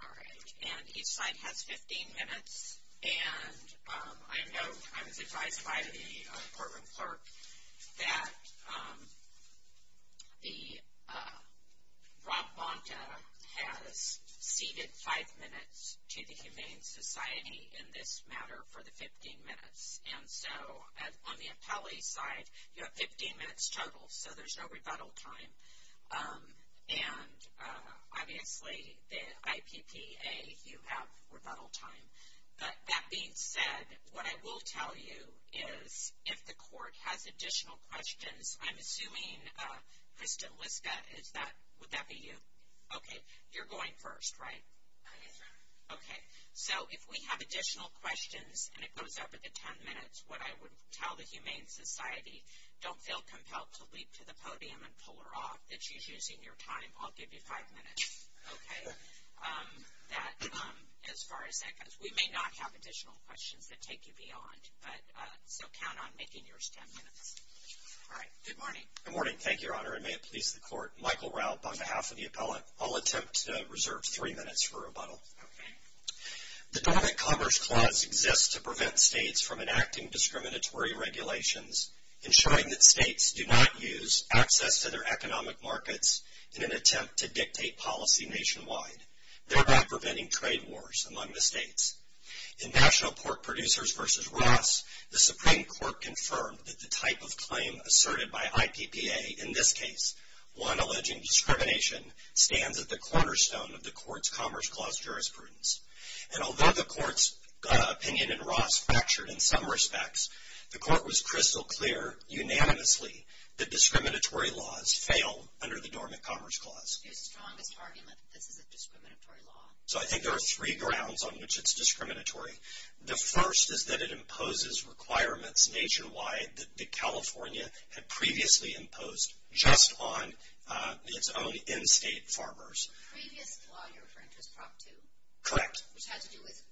All right, and each side has 15 minutes and I know I was advised by the courtroom clerk that the Rob Bonta has ceded five minutes to the Humane Society in this matter for the 15 minutes and so on the appellee side you have 15 minutes total so there's no rebuttal time and obviously the IPPA you have rebuttal time but that being said what I will tell you is if the court has additional questions I'm assuming Krista Liska is that would that be you okay you're going first right okay so if we have additional questions and it goes up at the podium and pull her off that she's using your time I'll give you five minutes okay as far as that goes we may not have additional questions that take you beyond but so count on making yours ten minutes all right good morning good morning thank your honor and may it please the court Michael Raupp on behalf of the appellate I'll attempt to reserve three minutes for rebuttal the government commerce clause exists to prevent states from enacting discriminatory regulations ensuring that states do not use access to their economic markets in an attempt to dictate policy nationwide thereby preventing trade wars among the states in National Pork Producers versus Ross the Supreme Court confirmed that the type of claim asserted by IPPA in this case one alleging discrimination stands at the cornerstone of the courts Commerce Clause jurisprudence and although the courts opinion and Ross fractured in some respects the court was crystal clear unanimously the discriminatory laws fail under the dormant Commerce Clause so I think there are three grounds on which it's discriminatory the first is that it imposes requirements nationwide that the California had previously imposed just on its own in-state farmers correct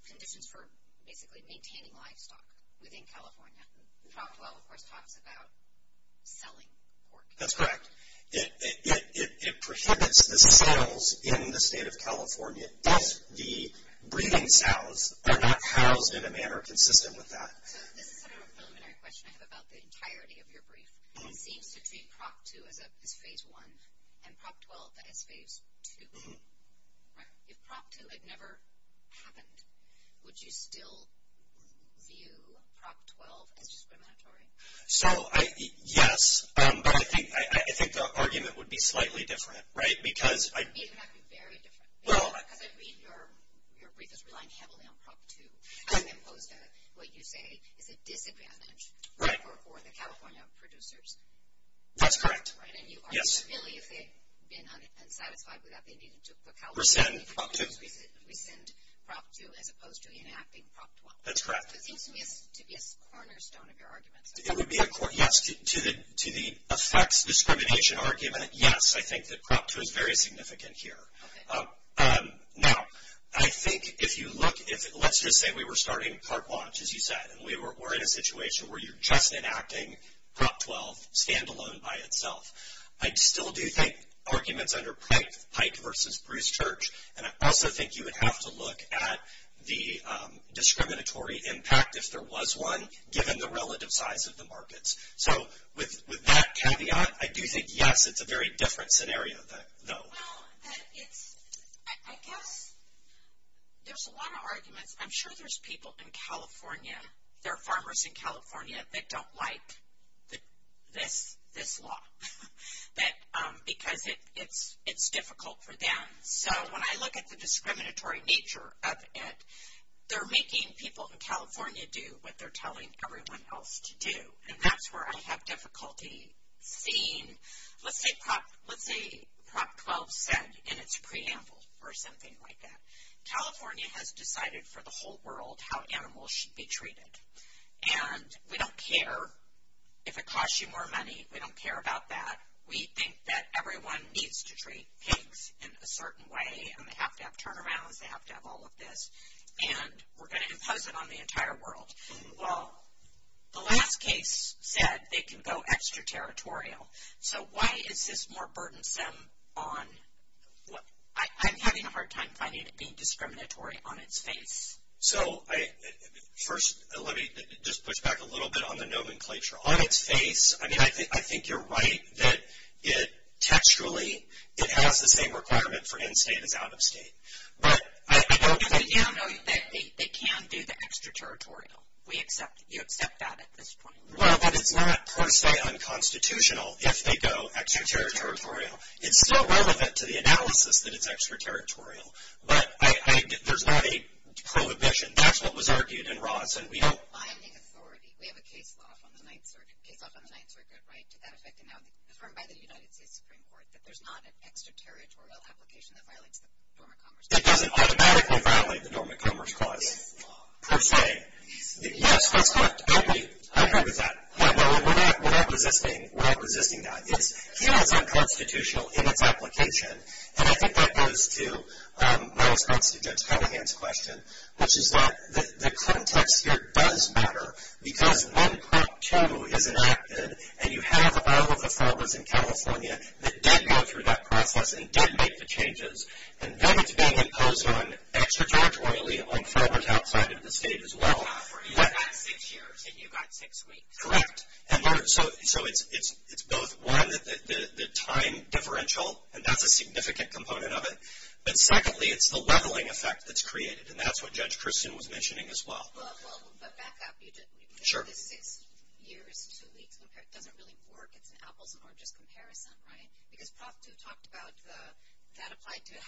conditions for basically maintaining livestock that's correct it prohibits the sales in the state of California the breeding sows are not housed in a manner consistent with that the entirety of your brief seems to treat prop 2 as a phase 1 and prop 12 that is phase 2 if prop 2 had never happened would you still view prop 12 as discriminatory so I yes but I think I think the argument would be slightly different right because right that's correct yes we're saying we send prop 2 as opposed to enacting significant here now I think if you look at it let's just say we were starting part watch as you said we were in a situation where you're just enacting prop 12 standalone by itself I still do think arguments under Pike Pike versus Bruce Church and I also think you would have to look at the discriminatory impact if there was one given the relative size of the markets so with I guess there's a lot of arguments I'm sure there's people in California there are farmers in California that don't like that this this law that because it it's it's difficult for them so when I look at the discriminatory nature of it they're making people in California do what they're telling everyone else to do that's where I have difficulty seeing let's say let's say prop 12 said in its preamble or something like that California has decided for the whole world how animals should be treated and we don't care if it costs you more money we don't care about that we think that everyone needs to treat pigs in a certain way and they have to have turnarounds they have to have all of this and we're going to impose it on the entire world well the last case said they can go extraterritorial so why is this more burdensome on what I'm having a hard time finding it being discriminatory on its face so I first let me just push back a little bit on the nomenclature on its face I mean I think I think you're right that it textually it has the same requirement for in-state as out-of-state but I don't know that they can do the extraterritorial we accept you accept that at this point well that it's not per se unconstitutional if they go extraterritorial it's still relevant to the analysis that it's extraterritorial but I there's not a prohibition that's what was argued in Ross and we don't it doesn't automatically violate the Dormant Commerce Clause per se yes that's correct I agree I agree with that no we're not we're not resisting we're not resisting that it's feels unconstitutional in its application and I think that goes to my response to Judge Cunningham's question which is that the context here does matter because when Prop 2 is enacted and you have all of the folders in California that did go through that process and did make the changes and then it's being imposed on extraterritorially on folders outside of the state as well correct and so so it's it's it's both one the time differential and that's a significant component of it but secondly it's the leveling effect that's created and that's what Judge Christian was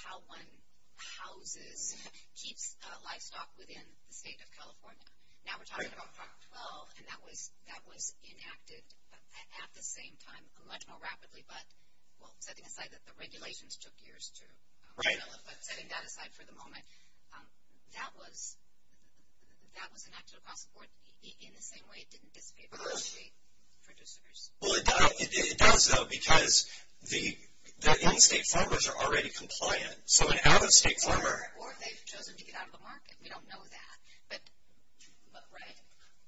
how one houses keeps livestock within the state of California now we're talking about 12 and that was that was enacted at the same time a much more rapidly but well setting aside that the regulations took years to write but setting that aside for the moment that was that was enacted across the board in the same way it didn't dissipate producers well it does though because the state farmers are already compliant so an out-of-state farmer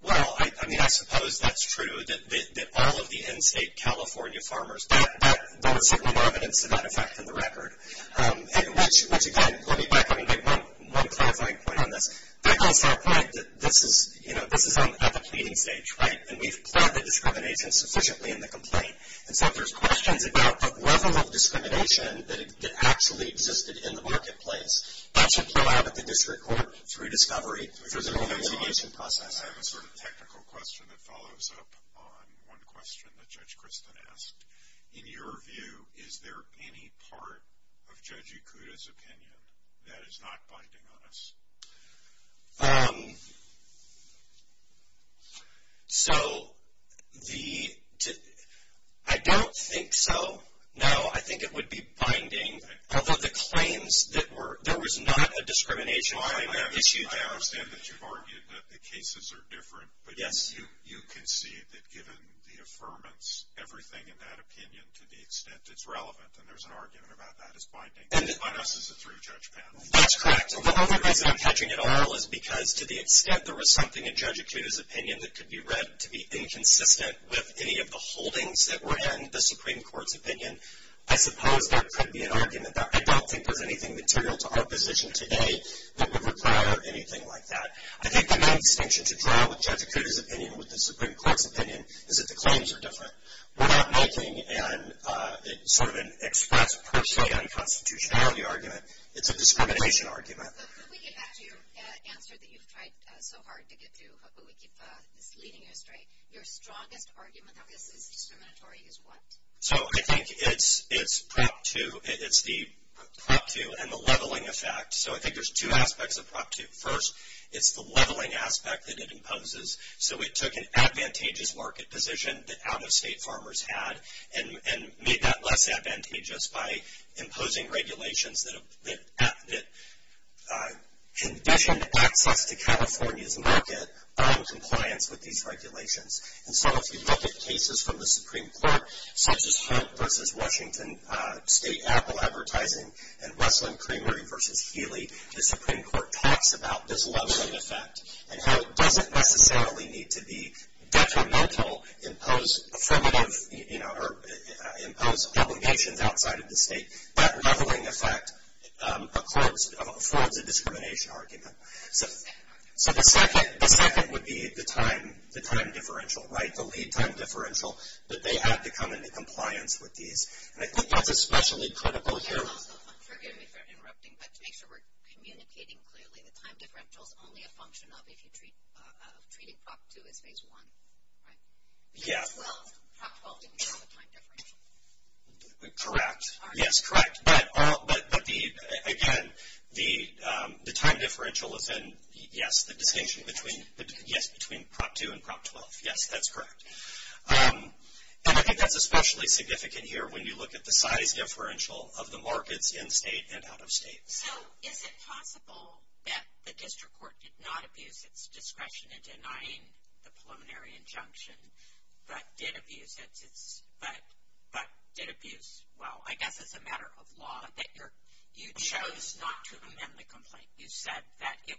well I mean I suppose that's true that all of the in-state California farmers that there was certainly more evidence to that effect in the record and which which again let me back up and get one one clarifying point on this that goes to our point that this is you know this is on the pleading stage right and we've planned the discrimination sufficiently in the complaint and so if there's questions about the level of discrimination that it actually existed in the marketplace that should come out at the district court through discovery there's an investigation process technical question that follows up on one question that judge Kristen asked in your view is there any part of judge Akuta's opinion that is not binding on us so the I don't think so no I think it would be binding although the claims that were there was not a discrimination issue that I understand that you've different but yes you you can see that given the affirmance everything in that opinion to the extent it's relevant and there's an argument about that is binding and it's by us as a through judge panel that's correct the only reason I'm hedging it all is because to the extent there was something in judge Akuta's opinion that could be read to be inconsistent with any of the holdings that were in the Supreme Court's opinion I suppose there could be an argument that I don't think there's anything material to our position today that distinction to draw with judge Akuta's opinion with the Supreme Court's opinion is that the claims are different we're not making and it's sort of an express per se unconstitutionality argument it's a discrimination argument so I think it's it's prep to it's the prep to and the leveling effect so I think there's two aspects of property first it's the leveling aspect that it imposes so it took an advantageous market position that out-of-state farmers had and and made that less advantageous by imposing regulations that condition access to California's market on compliance with these regulations and so if you look at cases from the Supreme Court such as versus Washington State Apple advertising and Russell and Creamery versus Healy the Supreme Court talks about this leveling effect and how it doesn't necessarily need to be detrimental impose affirmative you know or impose obligations outside of the state that leveling effect accords affords a discrimination argument so so the second the second would be the time the time differential right the lead time differential that they had to come into compliance with these and I think that's especially critical here correct yes correct but all but the again the the time differential is in yes the distinction between the yes between prop 2 and prop 12 yes that's correct and I think that's especially significant here when you look at the size differential of the markets in state and out-of-state so is it possible that the district court did not abuse its discretion in denying the preliminary injunction but did abuse its but but did abuse well I guess it's a matter of law that you're you chose not to amend the complaint you said that it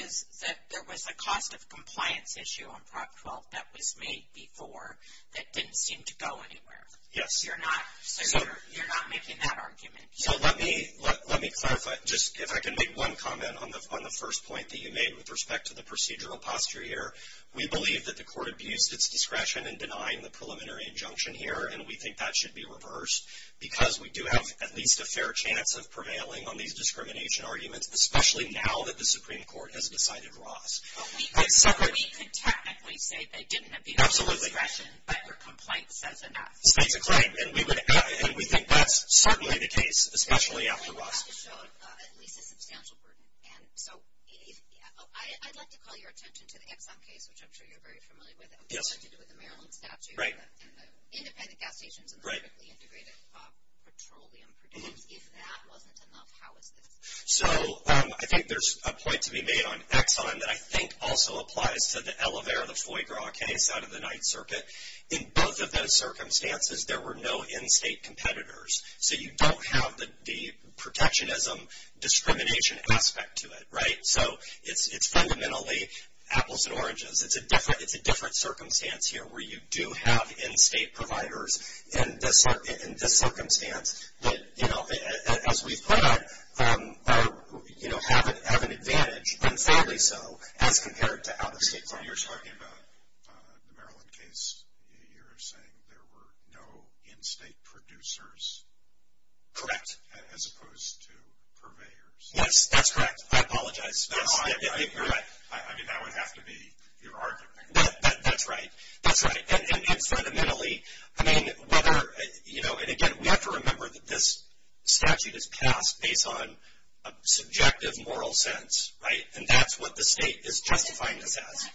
it looks like there was a cost of compliance issue on prop 12 that was made before that didn't seem to go anywhere yes you're not so you're not making that argument so let me let me clarify just if I can make one comment on the on the first point that you made with respect to the procedural posture here we believe that the court abused its discretion and denying the preliminary injunction here and we think that should be reversed because we do have at least a fair chance of prevailing on these discrimination arguments especially now that the Supreme Court has decided Ross so I think there's a point to be made on Exxon that I think also applies to the elevator of the foie gras case out of the Ninth Circuit in both of those circumstances there were no in-state competitors so you don't have the protectionism discrimination aspect to it right so it's it's fundamentally apples and oranges it's a different it's a different circumstance here where you do have in-state providers in this in this circumstance but you know as we've put out you know have it have an advantage and fairly so as compared to out-of-state you're talking about the Maryland case you're saying there were no in-state producers correct as opposed to purveyors yes that's correct I have to be your argument that's right that's right and it's fundamentally I mean whether you know and again we have to remember that this statute is passed based on a subjective moral sense right and that's what the state is justifying this as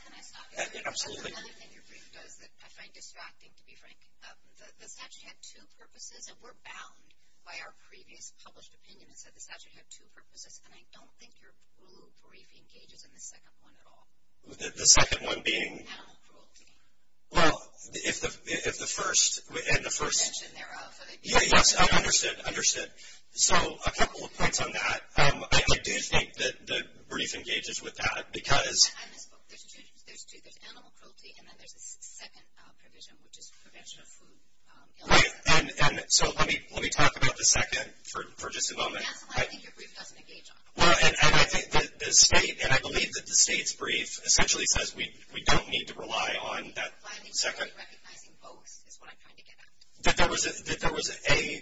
the second one being well if the if the first and the first yeah yes understood understood so a couple of points on that I do think that the brief engages with that because so let me let me talk about the second for just a moment well and I think the state and I believe that the state's brief essentially says we we don't need to rely on that second that there was a there was a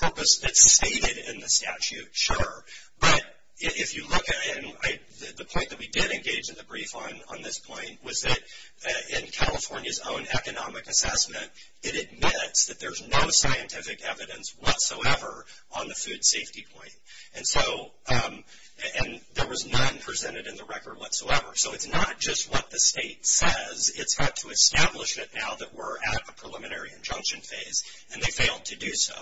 purpose that's stated in the statute sure but if you look at it and I the point that we did engage in the brief on on this point was that in California's own economic assessment it admits that there's no scientific evidence whatsoever on the food safety point and so and there was none presented in the record whatsoever so it's not just what the state says it's had to establish it now that we're at the preliminary injunction phase and they failed to do so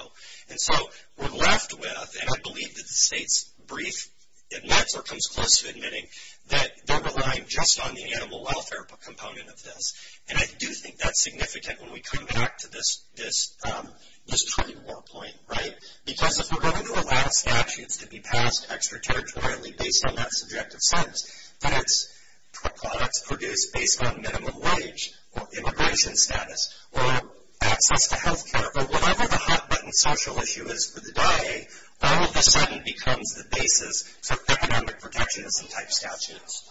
and so we're left with and I believe that the state's brief admits or comes close to admitting that they're relying just on the animal welfare component of this and I do think that's significant when we come back to this this this point right because if we're going to allow statutes to be passed extraterritorially based on that subjective sense that it's products produced based on minimum wage or immigration status or access to health or whatever the hot-button social issue is for the day all of a sudden becomes the basis for economic protectionist and type statutes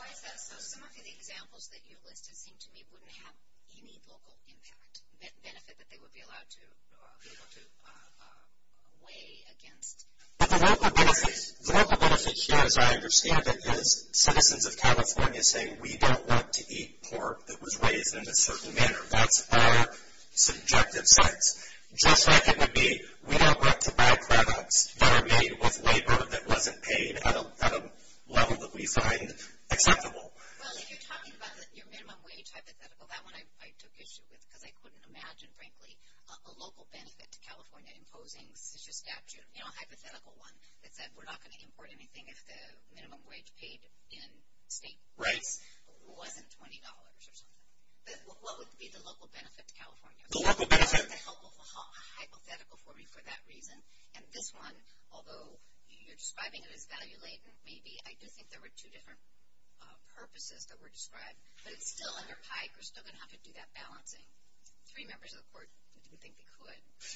but the local benefits the local benefits here as I understand it is citizens of California saying we don't want to eat pork that was raised in a just like it would be we don't want to buy products that are made with labor that wasn't paid at a level that we find acceptable hypothetical that one I took issue with because I couldn't imagine frankly a local benefit to California imposing such a statute you know hypothetical one that said we're not going to import anything if the minimum wage paid in state rates wasn't $20 or something what would be the local benefit to California the local benefit hypothetical for me for that reason and this one although you're describing it as value-laden maybe I do think there were two different purposes that were described but it's still under pike or still gonna have to do that balancing three members of the court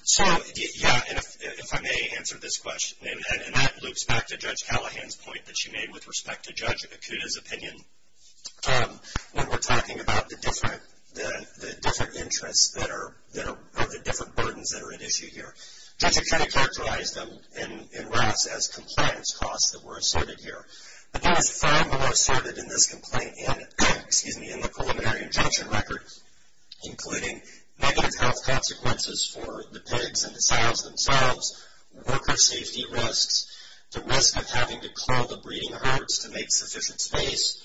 so yeah if I may answer this question and that loops back to judge Callahan's point that she made with respect to judge Akuta's opinion when we're talking about the different the different interests that are there are the different burdens that are at issue here judge Akuta characterized them and in RAS as compliance costs that were asserted here but there was far more asserted in this complaint in excuse me in the preliminary injunction record including negative health consequences for the pigs and the sows themselves worker safety risks the risk of having to call the breeding herds to make sufficient space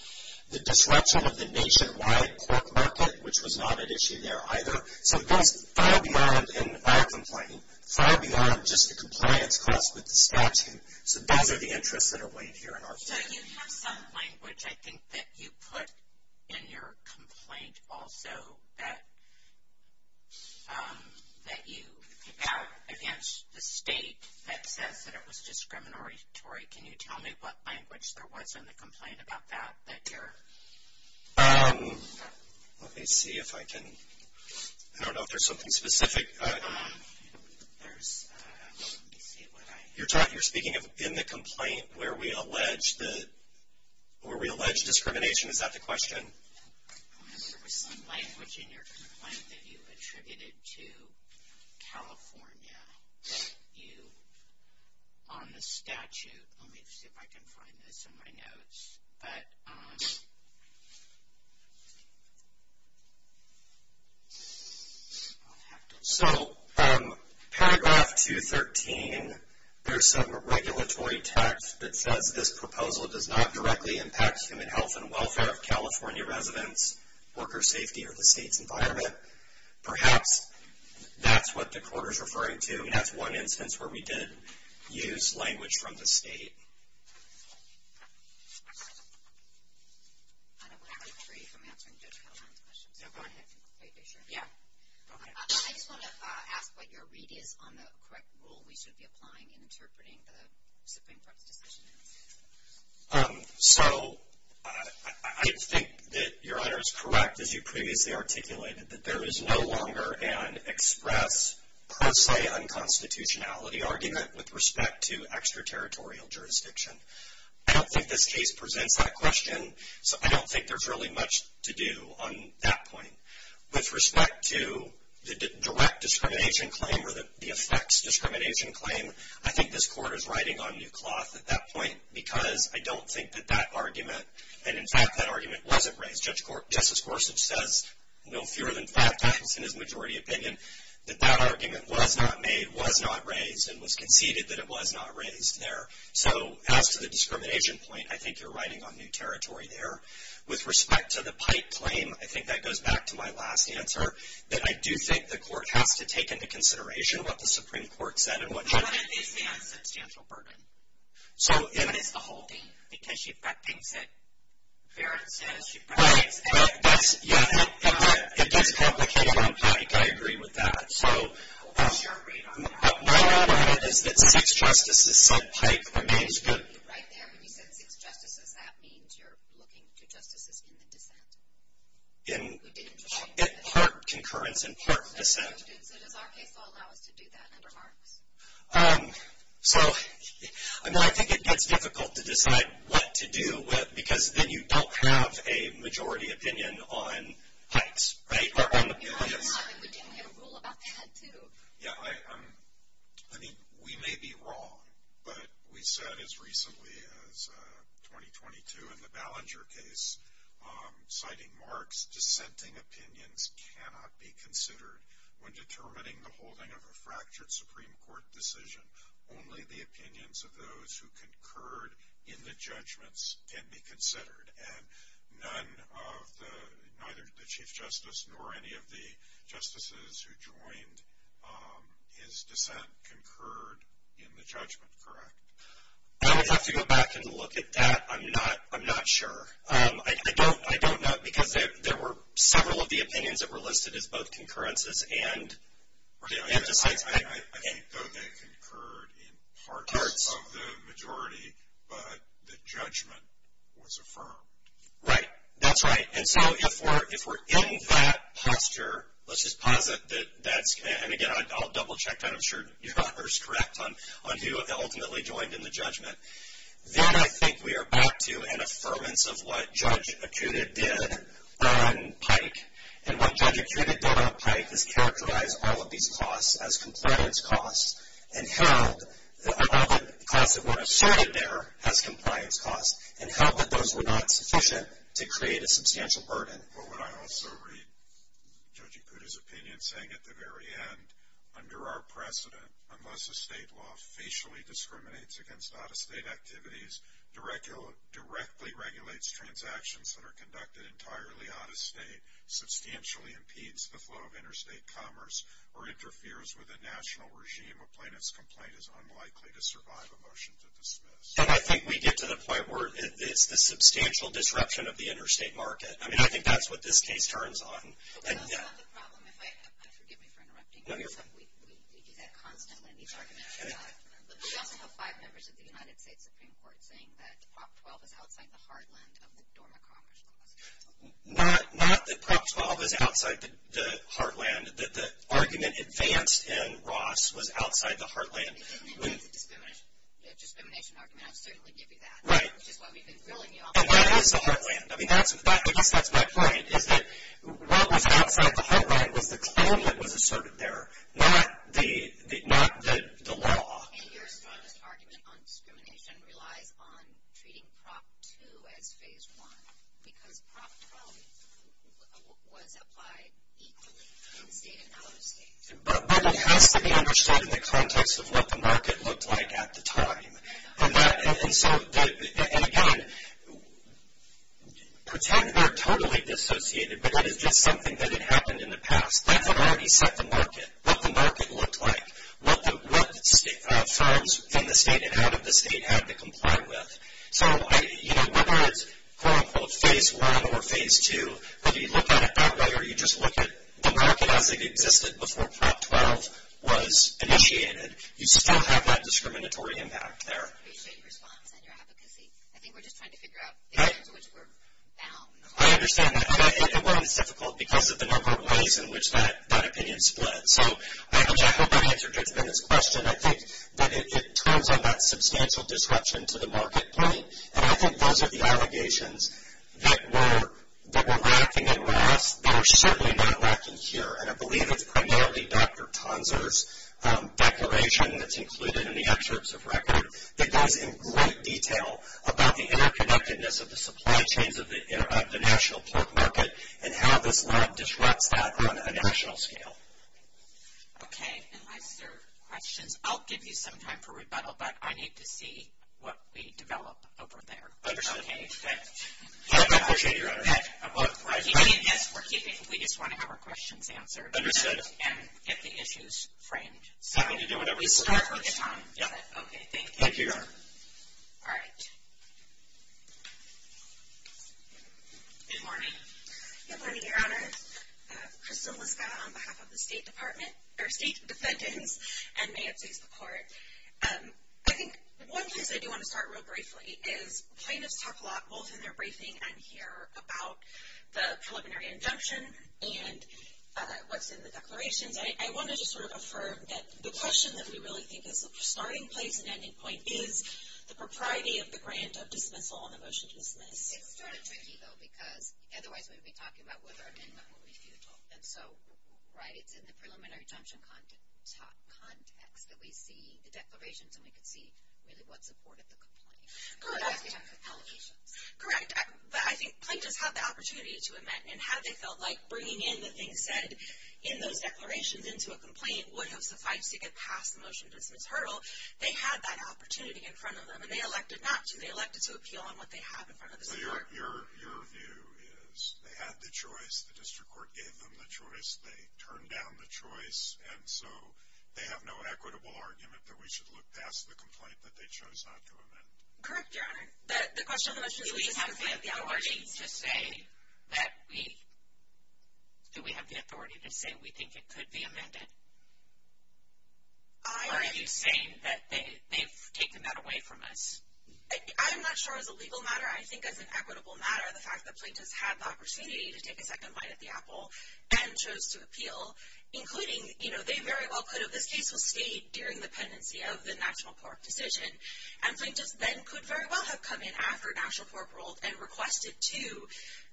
the disruption of the nationwide pork market which was not an issue there either so far beyond in our complaint far beyond just a compliance cost with the statute so those are the interests that are weighed here in our complaint also that that you against the state that says that it was discriminatory Tori can you tell me what language there was in the complaint about that that you're let me see if I can I don't know if there's something specific you're talking you're speaking of in the complaint where we allege the discrimination is that the question so paragraph 213 there's some regulatory text that says this proposal does not directly impact human health and welfare of California residents worker safety or the state's environment perhaps that's what the quarter is referring to and that's one instance where we did use language from the state I just want to ask what your read is on the correct rule we should be applying in interpreting the Supreme Court's decision so I think that your honor is correct as you previously articulated that there is no longer an express per se unconstitutionality argument with respect to extraterritorial jurisdiction I don't think this case presents that question so I don't think there's really much to do on that point with respect to the direct discrimination claim or that the effects discrimination claim I think this court is riding on new cloth at that point because I don't think that that argument and in fact that argument wasn't raised just court justice Gorsuch says no fewer than five times in his majority opinion that that argument was not made was not there so as to the discrimination point I think you're riding on new territory there with respect to the pipe claim I think that goes back to my last answer that I do think the court has to take into consideration what the Supreme in part concurrence in part descent so I mean I think it gets difficult to decide what to do with because then you don't have a majority opinion on heights yeah I mean we may be wrong but we said as recently as 2022 in the Ballinger case citing marks dissenting opinions cannot be considered when determining the holding of a fractured Supreme Court decision only the opinions of those who concurred in the judgments can be considered and none of the neither the or any of the justices who joined his descent concurred in the judgment correct I would have to go back and look at that I'm not I'm not sure I don't I don't know because there were several of the opinions that were listed as both concurrences and right that's right and so if we're if we're in that posture let's just posit that that's and again I'll double-check that I'm sure you're not first correct on on who ultimately joined in the judgment then I think we are back to an affirmance of what judge Akuta did on Pike and what judge Akuta did on Pike is characterize all of these costs as compliance costs and held that all the costs that were asserted there as compliance costs and held that those were not sufficient to create a judge Akuta's opinion saying at the very end under our precedent unless a state law facially discriminates against out-of-state activities directly directly regulates transactions that are conducted entirely out-of-state substantially impedes the flow of interstate commerce or interferes with a national regime a plaintiff's complaint is unlikely to survive a motion to dismiss and I think we get to the point where it's the substantial disruption of the interstate market I mean I think that's what this case turns on not not that prop 12 is outside the heartland that the argument advanced in that's that's my point is that what was outside the heartland was the claim that was asserted there not the not the the law but but it has to be understood in the context of what the market looked like and so and again pretend they're totally disassociated but that is just something that had happened in the past that's what already set the market what the market looked like what the what firms from the state and out of the state had to comply with so you know whether it's quote-unquote phase one or phase two whether you look at it that way or you just look at the market as it existed was initiated you still have that discriminatory impact there I understand that I think it was difficult because of the number of ways in which that that opinion split so I hope I answered it's been this question I think that it turns on that substantial disruption to the market point and I think those are the allegations that were that were lacking and were asked they were certainly not Dr. Panzer's declaration that's included in the excerpts of record that goes in great detail about the interconnectedness of the supply chains of the international pork market and how this lab disrupts that on a national scale okay I'll give you some time for rebuttal but I need to see what we get the issues framed and may it please the court I think one case I do want to start real briefly is plaintiffs talk a lot both in their briefing and here about the preliminary declarations I want to just sort of affirm that the question that we really think is the starting place and ending point is the propriety of the grant of dismissal on the motion to dismiss correct but I think plaintiffs have the opportunity to amend and have they felt like bringing in the thing said in those declarations into a complaint would have suffice to get past the motion dismiss hurdle they had that opportunity in front of them and they elected not to be elected to appeal on what they have in front of the court your view is they had the choice the district court gave them the choice they turned down the choice and so they have no equitable argument that we should look past the complaint that they chose correct your honor that the question we have the authority to say that we do we have the authority to say we think it could be amended are you saying that they've taken that away from us I'm not sure as a legal matter I think as an equitable matter the fact that plaintiffs had the opportunity to take a second bite at the apple and chose to appeal including you know they very well could have this case will stay during the pendency of the national court decision and plaintiffs then could very well have come in after a national court ruled and requested to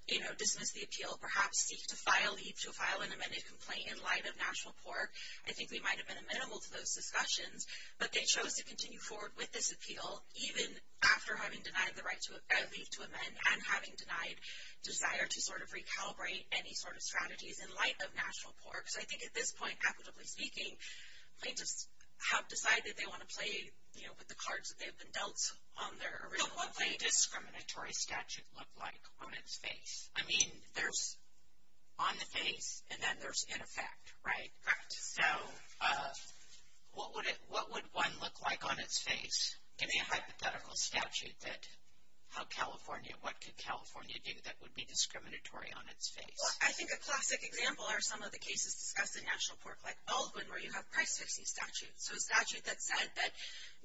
you know dismiss the appeal perhaps seek to file leave to file an amended complaint in light of national pork I think we might have been amenable to those discussions but they chose to continue forward with this appeal even after having denied the right to leave to amend and having denied desire to sort of recalibrate any sort of strategies in light of national pork so I think at this point equitably speaking plaintiffs have decided they want to play you know with the cards that they've been dealt on their discriminatory statute look like on its face I mean there's on the face and then there's in effect right correct so what would it what would one look like on its face give me a hypothetical statute that how California what could California do that would be discriminatory on its face I think a classic example are some of the cases discussed in national pork like Baldwin where you have price fixing statute so a statute that said that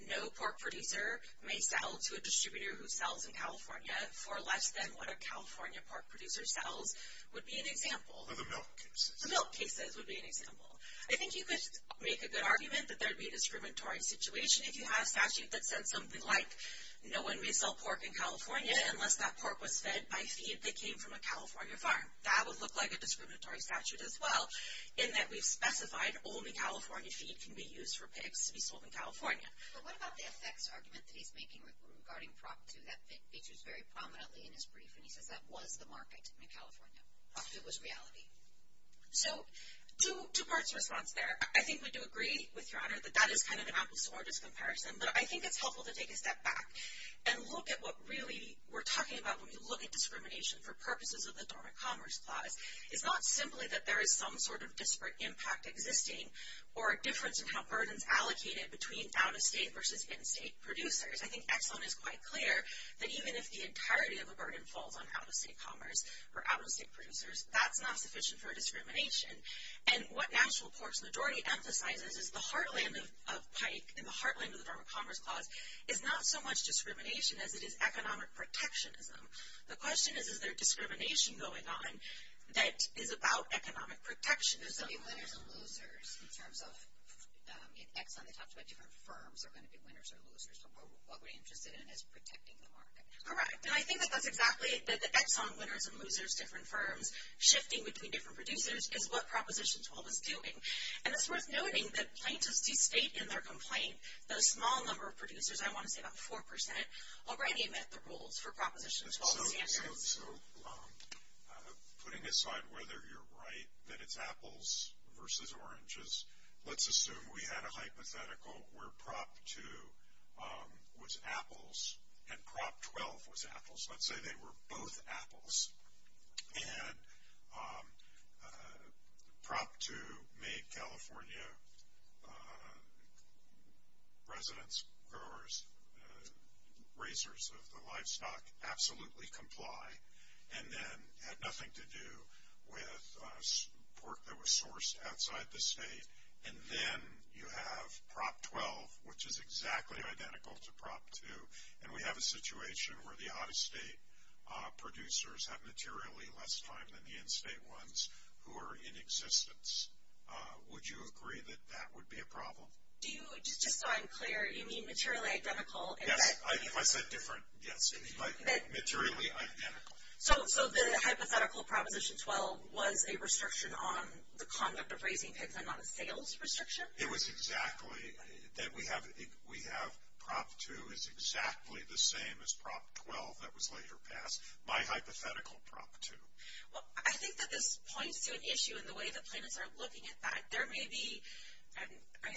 no pork producer may sell to a distributor who sells in California for less than what a California pork producer sells would be an example the milk cases would be an example I think you could make a good argument that there'd be a discriminatory situation if you have statute that said something like no one may sell pork in California unless that pork was fed by feed that came from a California farm that would look like a discriminatory statute as well in that we've specified only California feed can be used for pigs to be sold in California regarding property that features very prominently in his brief and he says that was the market in California it was reality so two parts response there I think we do agree with your honor that that is kind of an obvious or discomparison but I think it's helpful to take a step back and look at what really we're talking about when we look at discrimination for purposes of the Dormant Commerce Clause it's not simply that there is some sort of disparate impact existing or a difference in how burdens allocated between out-of-state versus in-state producers I think excellent is quite clear that even if the entirety of the burden falls on out-of-state commerce or out-of-state producers that's not sufficient for discrimination and what national porks majority emphasizes is the heartland of Pike in the heartland of the Dormant Commerce Clause is not so much discrimination as it is economic protectionism the question is is there discrimination going on that is about economic protectionism in terms of different firms are going to be winners or losers from what we're interested in is protecting the market all right and I think that that's exactly that the Exxon winners and losers different firms shifting between different producers is what Proposition 12 is doing and it's worth noting that plaintiffs to state in their complaint the small number of producers I want to say about 4% already met the rules for Proposition 12 putting aside whether you're right that it's apples versus oranges let's assume we had a hypothetical where Prop 2 was apples and Prop 12 was apples let's say they were both apples and Prop 2 made California residents growers raisers of the livestock absolutely comply and then had nothing to do with support that was sourced outside the state and then you have Prop 12 which is exactly identical to Prop 2 and we have a situation where the out-of-state producers have materially less time than the in-state ones who are in existence would you agree that that would be a problem do you just so I'm clear you yes so so the hypothetical Proposition 12 was a restriction on the conduct of raising pigs I'm not a sales restriction it was exactly that we have we have Prop 2 is exactly the same as Prop 12 that was later passed my hypothetical Prop 2 well I think that this points to an issue in the way the plaintiffs are looking at that there may be I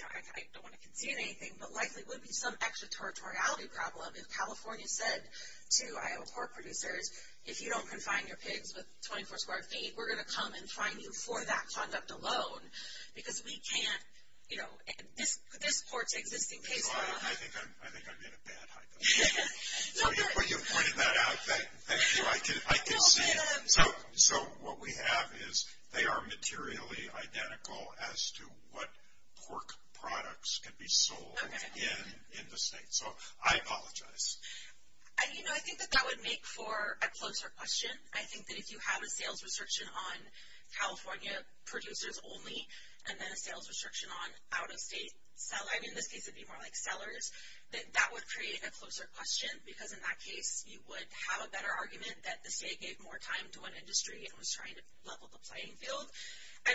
don't want to concede anything but likely would be some extraterritoriality problem if California said to Iowa pork producers if you don't confine your pigs with 24 square feet we're gonna come and find you for that conduct alone because we can't you know this this ports existing case so so what we have is they are materially identical as to what pork products can be sold in in the state so I apologize I think that that would make for a closer question I think that if you have a sales restriction on California producers only and then a sales restriction on out-of-state sell line in this case it'd be more like sellers that that would create a closer question because in that case you would have a better argument that the state gave more time to an industry and was trying to level the playing field I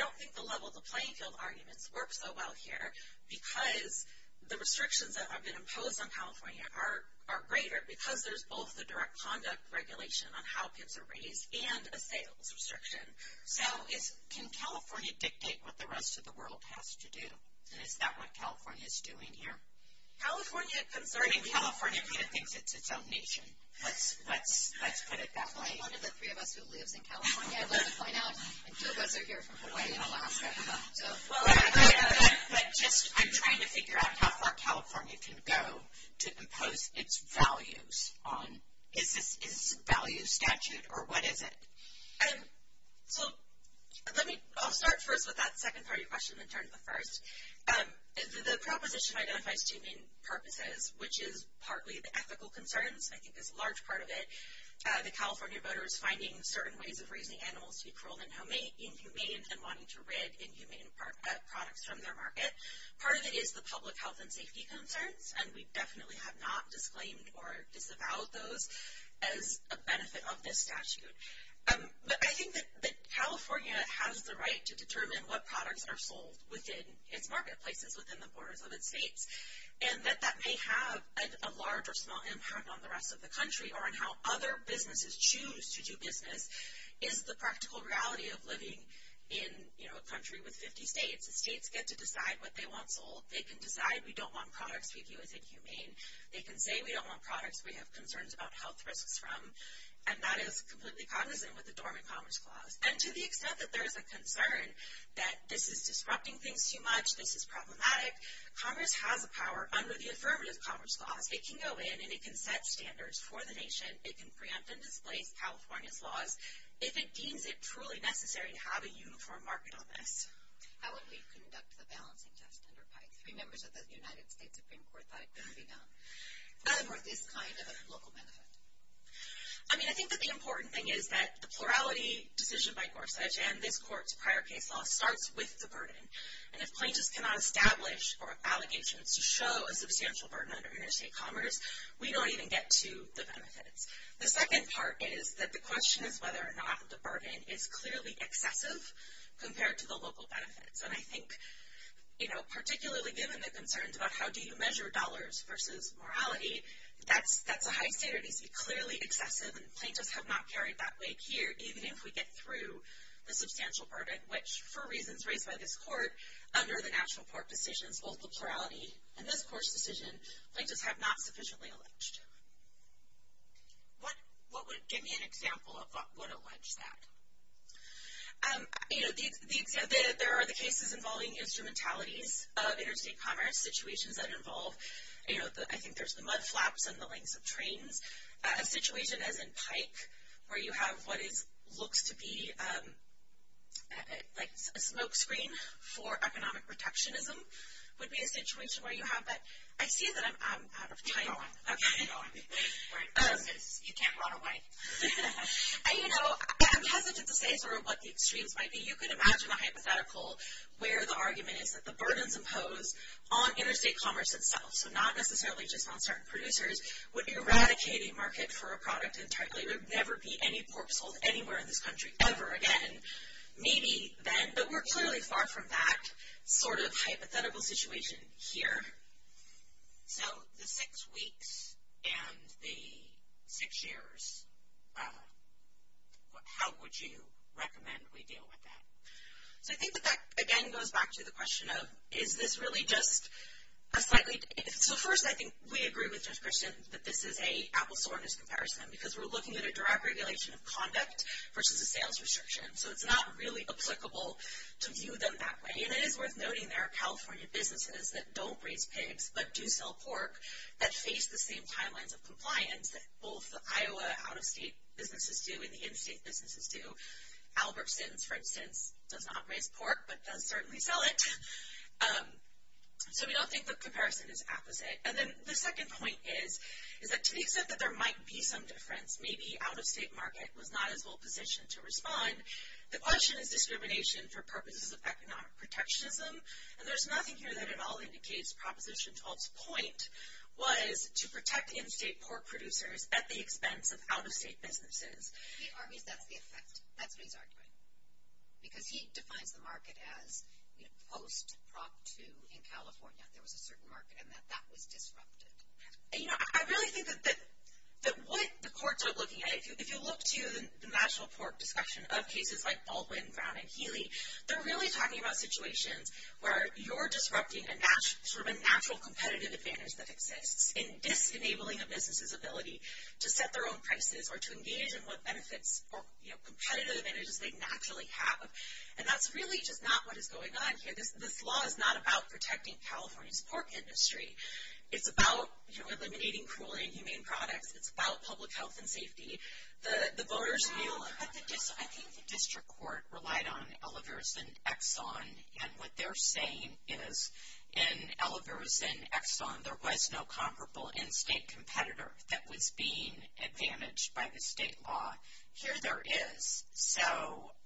because the restrictions that have been imposed on California are are greater because there's both the direct conduct regulation on how kids are raised and a sales restriction so it's can California dictate what the rest of the world has to do and is that what California is doing here California concerning California thinks it's its own nation let's let's let's put it that way California can go to impose its values on is this is value statute or what is it and so let me I'll start first with that secondary question and turn to the proposition identifies two main purposes which is partly the ethical concerns I think there's a large part of it the California voters finding certain ways of raising animals to be cruel and homemade inhumane and wanting to read inhumane products from their market part of it is the public health and safety concerns and we definitely have not disclaimed or disavowed those as a benefit of this statute but I think that California has the right to determine what products are sold within its marketplaces within the borders of its states and that that may have a large or small impact on the rest of the country or on how other businesses choose to do business is the practical reality of living in you know a country with 50 states the states get to decide what they want sold they can decide we don't want products we view as inhumane they can say we don't want products we have concerns about health risks from and that is completely cognizant with the dormant commerce clause and to the concern that this is disrupting things too much this is problematic Congress has a power under the affirmative commerce clause it can go in and it can set standards for the nation it can preempt and displace California's laws if it deems it truly necessary to have a uniform market on this I mean I think that the important thing is that the plurality decision by Gorsuch and this court's prior case law starts with the burden and if plaintiffs cannot establish or allegations to show a substantial burden under interstate commerce we don't even get to the benefits the second part is that the question is whether or not the burden is clearly excessive compared to the local benefits and I think you know particularly given the concerns about how do you measure dollars versus morality that's that's a high standard is be clearly excessive and plaintiffs have not carried that weight here even if we get through the substantial burden which for reasons raised by this court under the national court decisions both the plurality and this course decision plaintiffs have not sufficiently alleged what what would give me an example of what would allege that you know the exam there are the cases involving instrumentalities of interstate commerce situations that involve you know that I think there's the mudflaps and the links of trains a what is looks to be like a smokescreen for economic protectionism would be a situation where you have that I see that I'm out of time you know I'm hesitant to say sort of what the extremes might be you can imagine a hypothetical where the argument is that the burdens impose on interstate commerce itself so not necessarily just on certain producers would be eradicating market for a anywhere in this country ever again maybe then but we're clearly far from that sort of hypothetical situation here so the six weeks and the six years how would you recommend we deal with that so I think that that again goes back to the question of is this really just a slightly it's the first I think we agree with just percent but this is a applesauce comparison because we're regulation of conduct versus a sales restriction so it's not really applicable to view them that way and it is worth noting there are California businesses that don't raise pigs but do sell pork that face the same timelines of compliance that both Iowa out-of-state businesses do in the interstate businesses do Albertsons for instance does not raise pork but does certainly sell it so we don't think the comparison is opposite and then the second point is is that to the extent that there might be some difference maybe out-of-state market was not as well positioned to respond the question is discrimination for purposes of economic protectionism and there's nothing here that it all indicates proposition 12th point was to protect in-state pork producers at the expense of out-of-state businesses because he looking at if you look to the national pork discussion of cases like Baldwin Brown and Healy they're really talking about situations where you're disrupting a natural competitive advantage that exists in disenabling a business's ability to set their own prices or to engage in what benefits and that's really just not what is going on here this law is not about protecting California's pork industry it's about eliminating cruelty and humane products it's about public health and safety the voters district court relied on elevators and Exxon and what they're saying is in elevators and Exxon there was no comparable in-state competitor that was being advantaged by the state law here there is so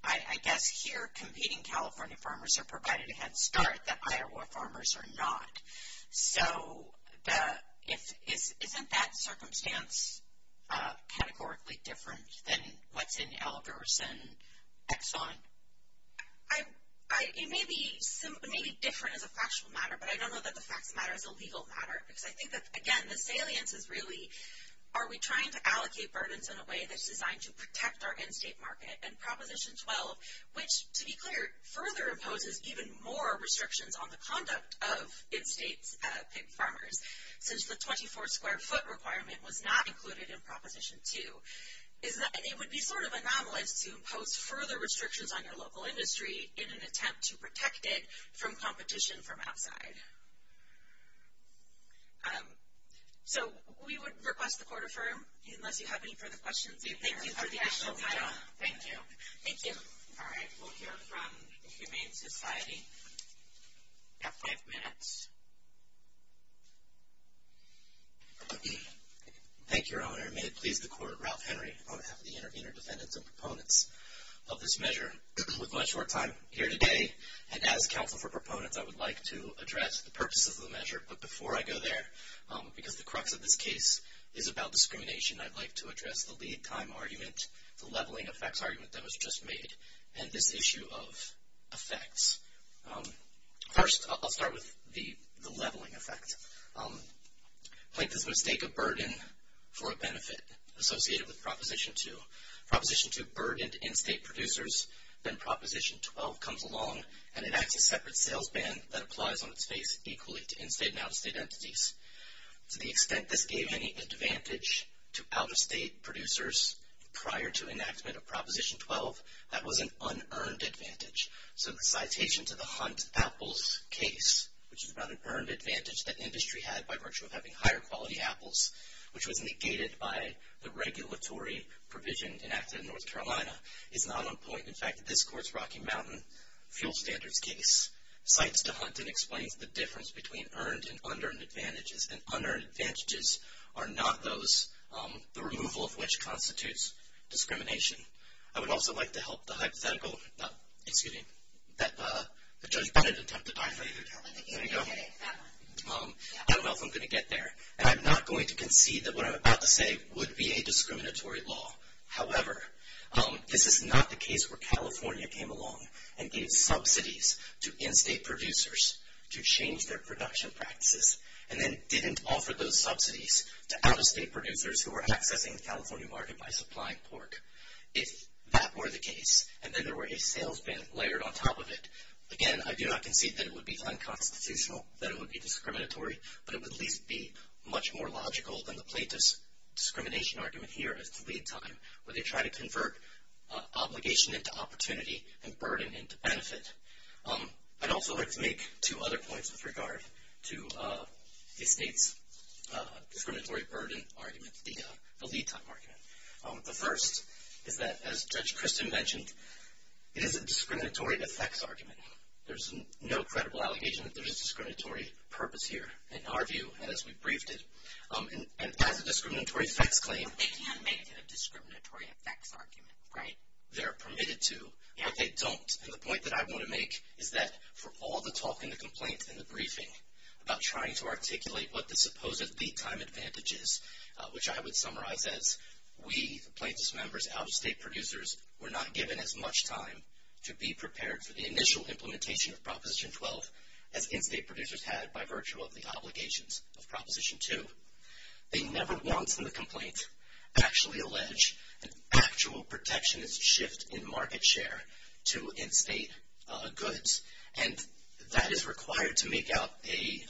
I guess here competing California farmers are provided a head start that Iowa farmers are not so if it isn't that circumstance categorically different than what's in elevators and Exxon I may be simply different as a factual matter but I don't know that the facts matter is a legal matter because I think that again the salience is really are we trying to allocate burdens in a way that's designed to protect our in-state market and proposition 12 which to be clear further imposes even more restrictions on the conduct of in-state pig farmers since the 24 square foot requirement was not included in proposition 2 is that it would be sort of anomalous to impose further restrictions on your local industry in an attempt to protect it from competition from outside so we would request the court affirm unless you have any further questions thank you thank you thank you all right we'll hear from the Humane Society at five minutes thank your honor may it please the court Ralph Henry on behalf of the intervener defendants and proponents of this measure with much more time here today and as counsel for proponents I would like to address the purposes of the measure but before I go there because the crux of this case is about discrimination I'd like to address the lead time argument the leveling effects argument that was just made and this issue of effects first I'll start with the the leveling effect like this mistake of burden for a benefit associated with proposition to proposition to burdened in-state producers then proposition 12 comes along and it acts a separate sales ban that applies on its face equally to in-state and out-of-state entities to the extent this gave any advantage to out-of-state producers prior to enactment of proposition 12 that was an unearned advantage so the citation to the hunt apples case which is about an earned advantage that industry had by virtue of having higher quality apples which was negated by the regulatory provision enacted in North Carolina is not on point in fact this courts Rocky Mountain fuel standards case sites to hunt and explains the difference between earned and under and advantages and under advantages are not those the removal of constitutes discrimination I would also like to help the hypothetical excuse me that the judge attempted I'm going to get there and I'm not going to concede that what I'm about to say would be a discriminatory law however this is not the case where California came along and gave subsidies to in-state producers to change their production practices and then didn't offer those subsidies to accessing the California market by supplying pork if that were the case and then there were a sales ban layered on top of it again I do not concede that it would be unconstitutional that it would be discriminatory but it would at least be much more logical than the plaintiffs discrimination argument here as to lead time where they try to convert obligation into opportunity and burden into benefit I'd also like to make two other points with regard to the state's burden argument the lead time argument the first is that as judge Christian mentioned it is a discriminatory effects argument there's no credible allegation that there's a discriminatory purpose here in our view as we briefed it and as a discriminatory effects claim they're permitted to and they don't and the point that I want to make is that for all the talk in the complaint in the which I would summarize as we plaintiffs members out-of-state producers were not given as much time to be prepared for the initial implementation of Proposition 12 as in-state producers had by virtue of the obligations of Proposition 2 they never once in the complaint actually allege an actual protectionist shift in market share to in-state goods and that is required to make out a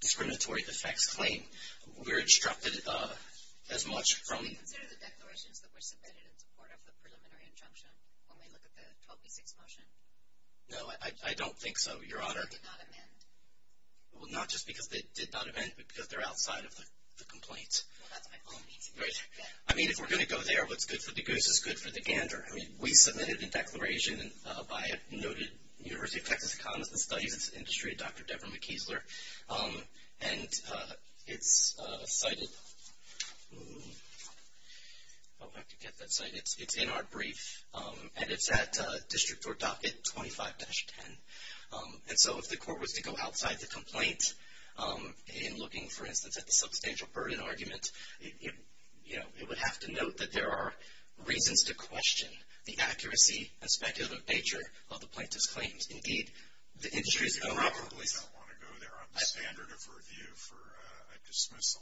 discriminatory effects claim we're instructed as much no I don't think so your honor well not just because they did not event because they're outside of the complaints I mean if we're gonna go there what's good for the goose is good for the gander I mean we submitted a declaration and by a noted University of Texas economist and studies its industry dr. Debra McKeesler and it's cited it's in our brief and it's at district or docket 25-10 and so if the court was to go outside the complaint in looking for instance at the substantial burden argument you know it would have to note that there are reasons to question the accuracy and speculative nature of the plaintiffs claims indeed the industry's gonna robberies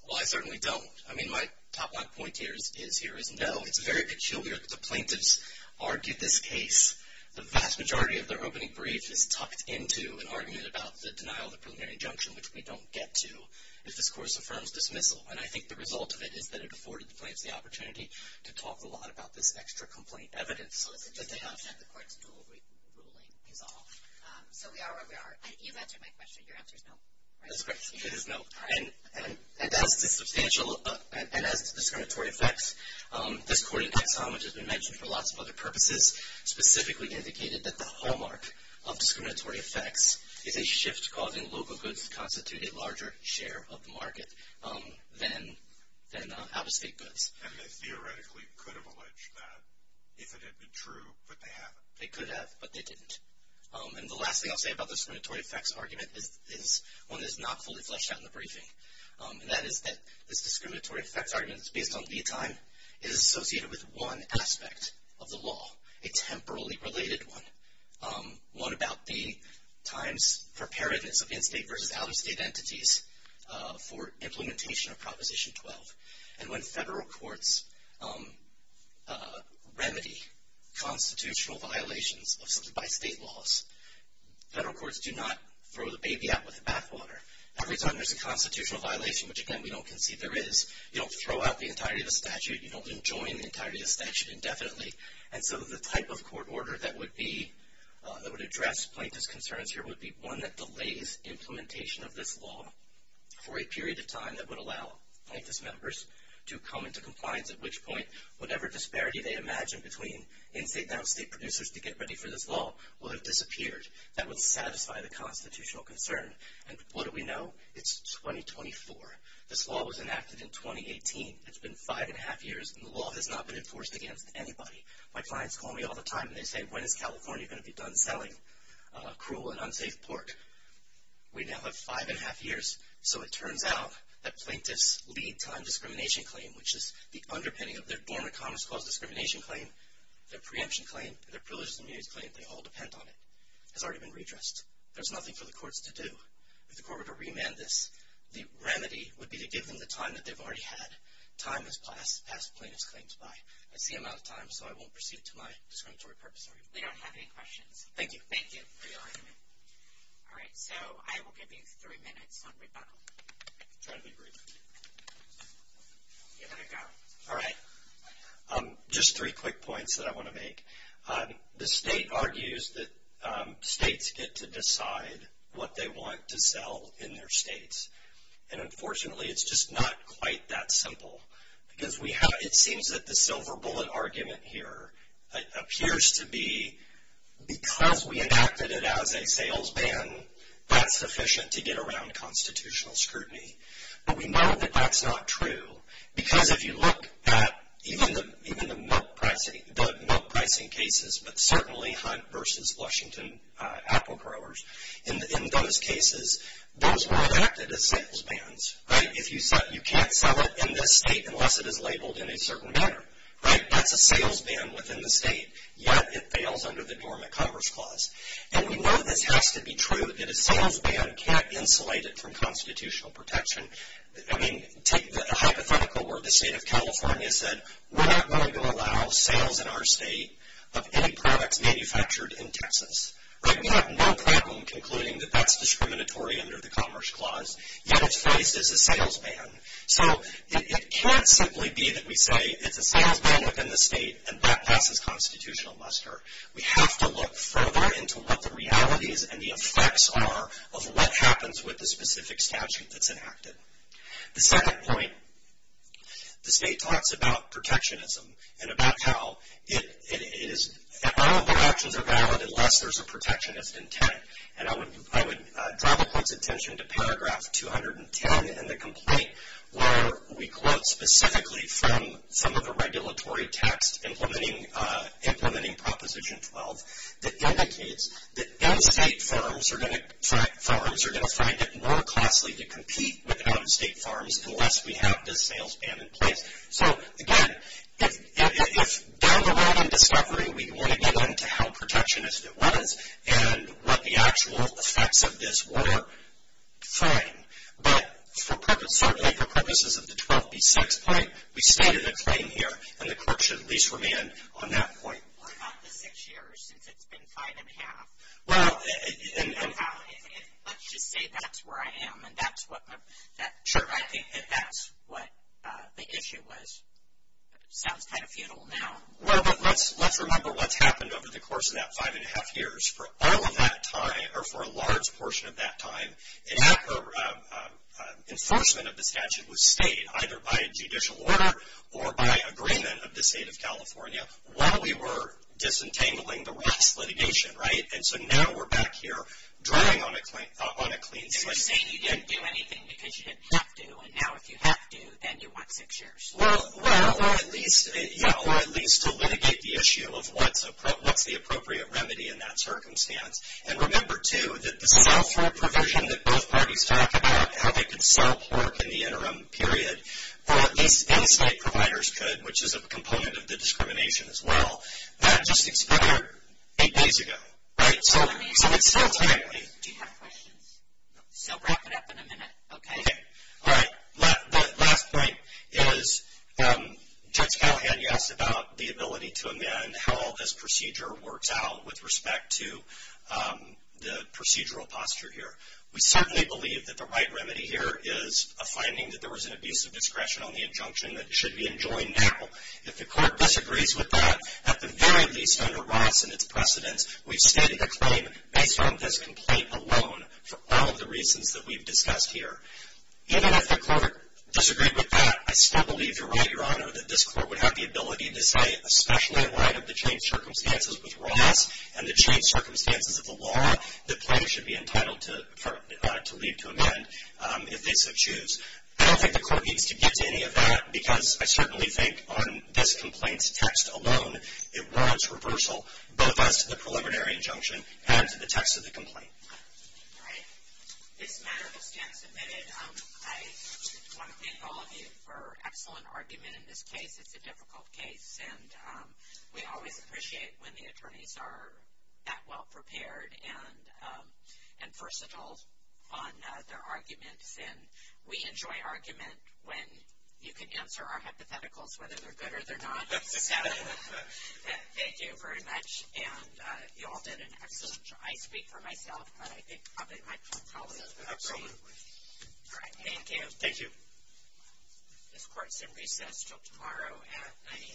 well I certainly don't I mean my top line point here is here is no it's very peculiar that the plaintiffs argued this case the vast majority of their opening brief is tucked into an argument about the denial the preliminary injunction which we don't get to if this course affirms dismissal and I think the result of it is that it afforded the place the opportunity to talk a lot about this extra complaint evidence and as a substantial and as discriminatory effects this courting tax on which has been mentioned for lots of other purposes specifically indicated that the hallmark of discriminatory effects is a shift causing local goods constitute a larger share of the market then then out-of-state goods and they theoretically could have alleged that if it had been true but they haven't they could have but they didn't and the last thing I'll say about the discriminatory effects argument is this one is not fully fleshed out in the briefing and that is that this discriminatory effects arguments based on the time is associated with one aspect of the law a temporally related one what about the times preparedness of in-state versus out-of-state entities for implementation of proposition 12 and when federal courts remedy constitutional violations of something by state laws federal courts do not throw the baby out with the bathwater every time there's a constitutional violation which again we don't concede there is you don't throw out the entirety of the statute you don't enjoy the entirety of statute indefinitely and so the type of court order that would be that would address plaintiffs concerns here would be one that delays implementation of this law for a period of time that would allow plaintiffs members to come into compliance at which point whatever disparity they imagine between in-state now state producers to get ready for this law will have disappeared that would satisfy the constitutional concern and what do we know it's 2024 this law was enacted in 2018 it's been five and a half years and the law has not been enforced against anybody my clients call me all the time they say when is California going to be selling a cruel and unsafe pork we now have five and a half years so it turns out that plaintiffs lead time discrimination claim which is the underpinning of their dormant commerce clause discrimination claim their preemption claim their privileges immunity claim they all depend on it has already been redressed there's nothing for the courts to do if the court were to remand this the remedy would be to give them the time that they've already had time has passed past plaintiffs claims by I see him out of time so I thank you all right just three quick points that I want to make the state argues that states get to decide what they want to sell in their states and unfortunately it's just not quite that simple because we have it seems that the as a salesman that's sufficient to get around constitutional scrutiny but we know that that's not true because if you look at even the even the pricing the milk pricing cases but certainly hunt versus Washington apple growers in those cases those were enacted as salesman's right if you said you can't sell it in this state unless it is labeled in a certain manner right that's a salesman within the state yet it fails under the dormant commerce clause and we know this has to be true that a salesman can't insulate it from constitutional protection I mean take the hypothetical where the state of California said we're not going to allow sales in our state of any products manufactured in Texas right we have no problem concluding that that's discriminatory under the Commerce Clause yet it's placed as a salesman so it can't simply be that we say it's a constitutional muster we have to look further into what the realities and the effects are of what happens with the specific statute that's enacted the second point the state talks about protectionism and about how it is actions are valid unless there's a protectionist intent and I would I would draw the point's attention to paragraph 210 in the complaint where we quote specifically from some of the regulatory text implementing proposition 12 that indicates that out-of-state farms are going to find it more costly to compete with an out-of-state farms unless we have this salesman in place so again if down the road in discovery we want to get into how protectionist it was and what the actual effects of this were, fine, but certainly for purposes of the 12b6 point we stated a claim here and the court should at least remand on that point. What about the six years since it's been five and a half? Well, let's just say that's where I am and that's what I think that's what the issue was. Sounds kind of futile now. Well, but let's remember what's happened over the course of that five and a half years. For all of that time, or for a large portion of that time, an either by judicial order or by agreement of the state of California while we were disentangling the Ross litigation, right? And so now we're back here drawing on a clean slate. And you're saying you didn't do anything because you didn't have to and now if you have to, then you want six years. Well, at least to litigate the issue of what's the appropriate remedy in that circumstance. And remember, too, that the self-rule provision that both parties talked about, how they could self-work in the interim period, or at least any state providers could, which is a component of the discrimination as well, that just expired eight days ago, right? So it's still timely. Do you have questions? So wrap it up in a minute, okay? Okay. All right. The last point is Judge Callahan, yes, about the ability to amend how all this procedure works out with respect to the procedural posture here. We certainly believe that the right remedy here is a finding that there was an abuse of discretion on the injunction that should be enjoined now. If the court disagrees with that, at the very least under Ross and its precedents, we've stated a claim based on this complaint alone for all of the reasons that we've discussed here. Even if the court disagreed with that, I still believe you're right, Your Honor, that this court would have the ability to say, especially in light of the changed circumstances with Ross and the changed circumstances of the law, that plaintiffs should be entitled to leave to amend if they so choose. I don't think the court needs to get to any of that because I certainly think on this complaint's text alone, it warrants reversal both as to the preliminary injunction and to the text of the complaint. All right. This matter will stand submitted. I want to thank all of you for an excellent argument in this case. It's a difficult case, and we always appreciate when the attorneys are that well-prepared and versatile on their arguments. And we enjoy argument when you can answer our hypotheticals, whether they're good or they're not. So thank you very much. And you all did an excellent job. I speak for myself, but I think probably my colleague would agree. Absolutely. All right. Thank you. Thank you. This court is in recess until tomorrow at 9 a.m.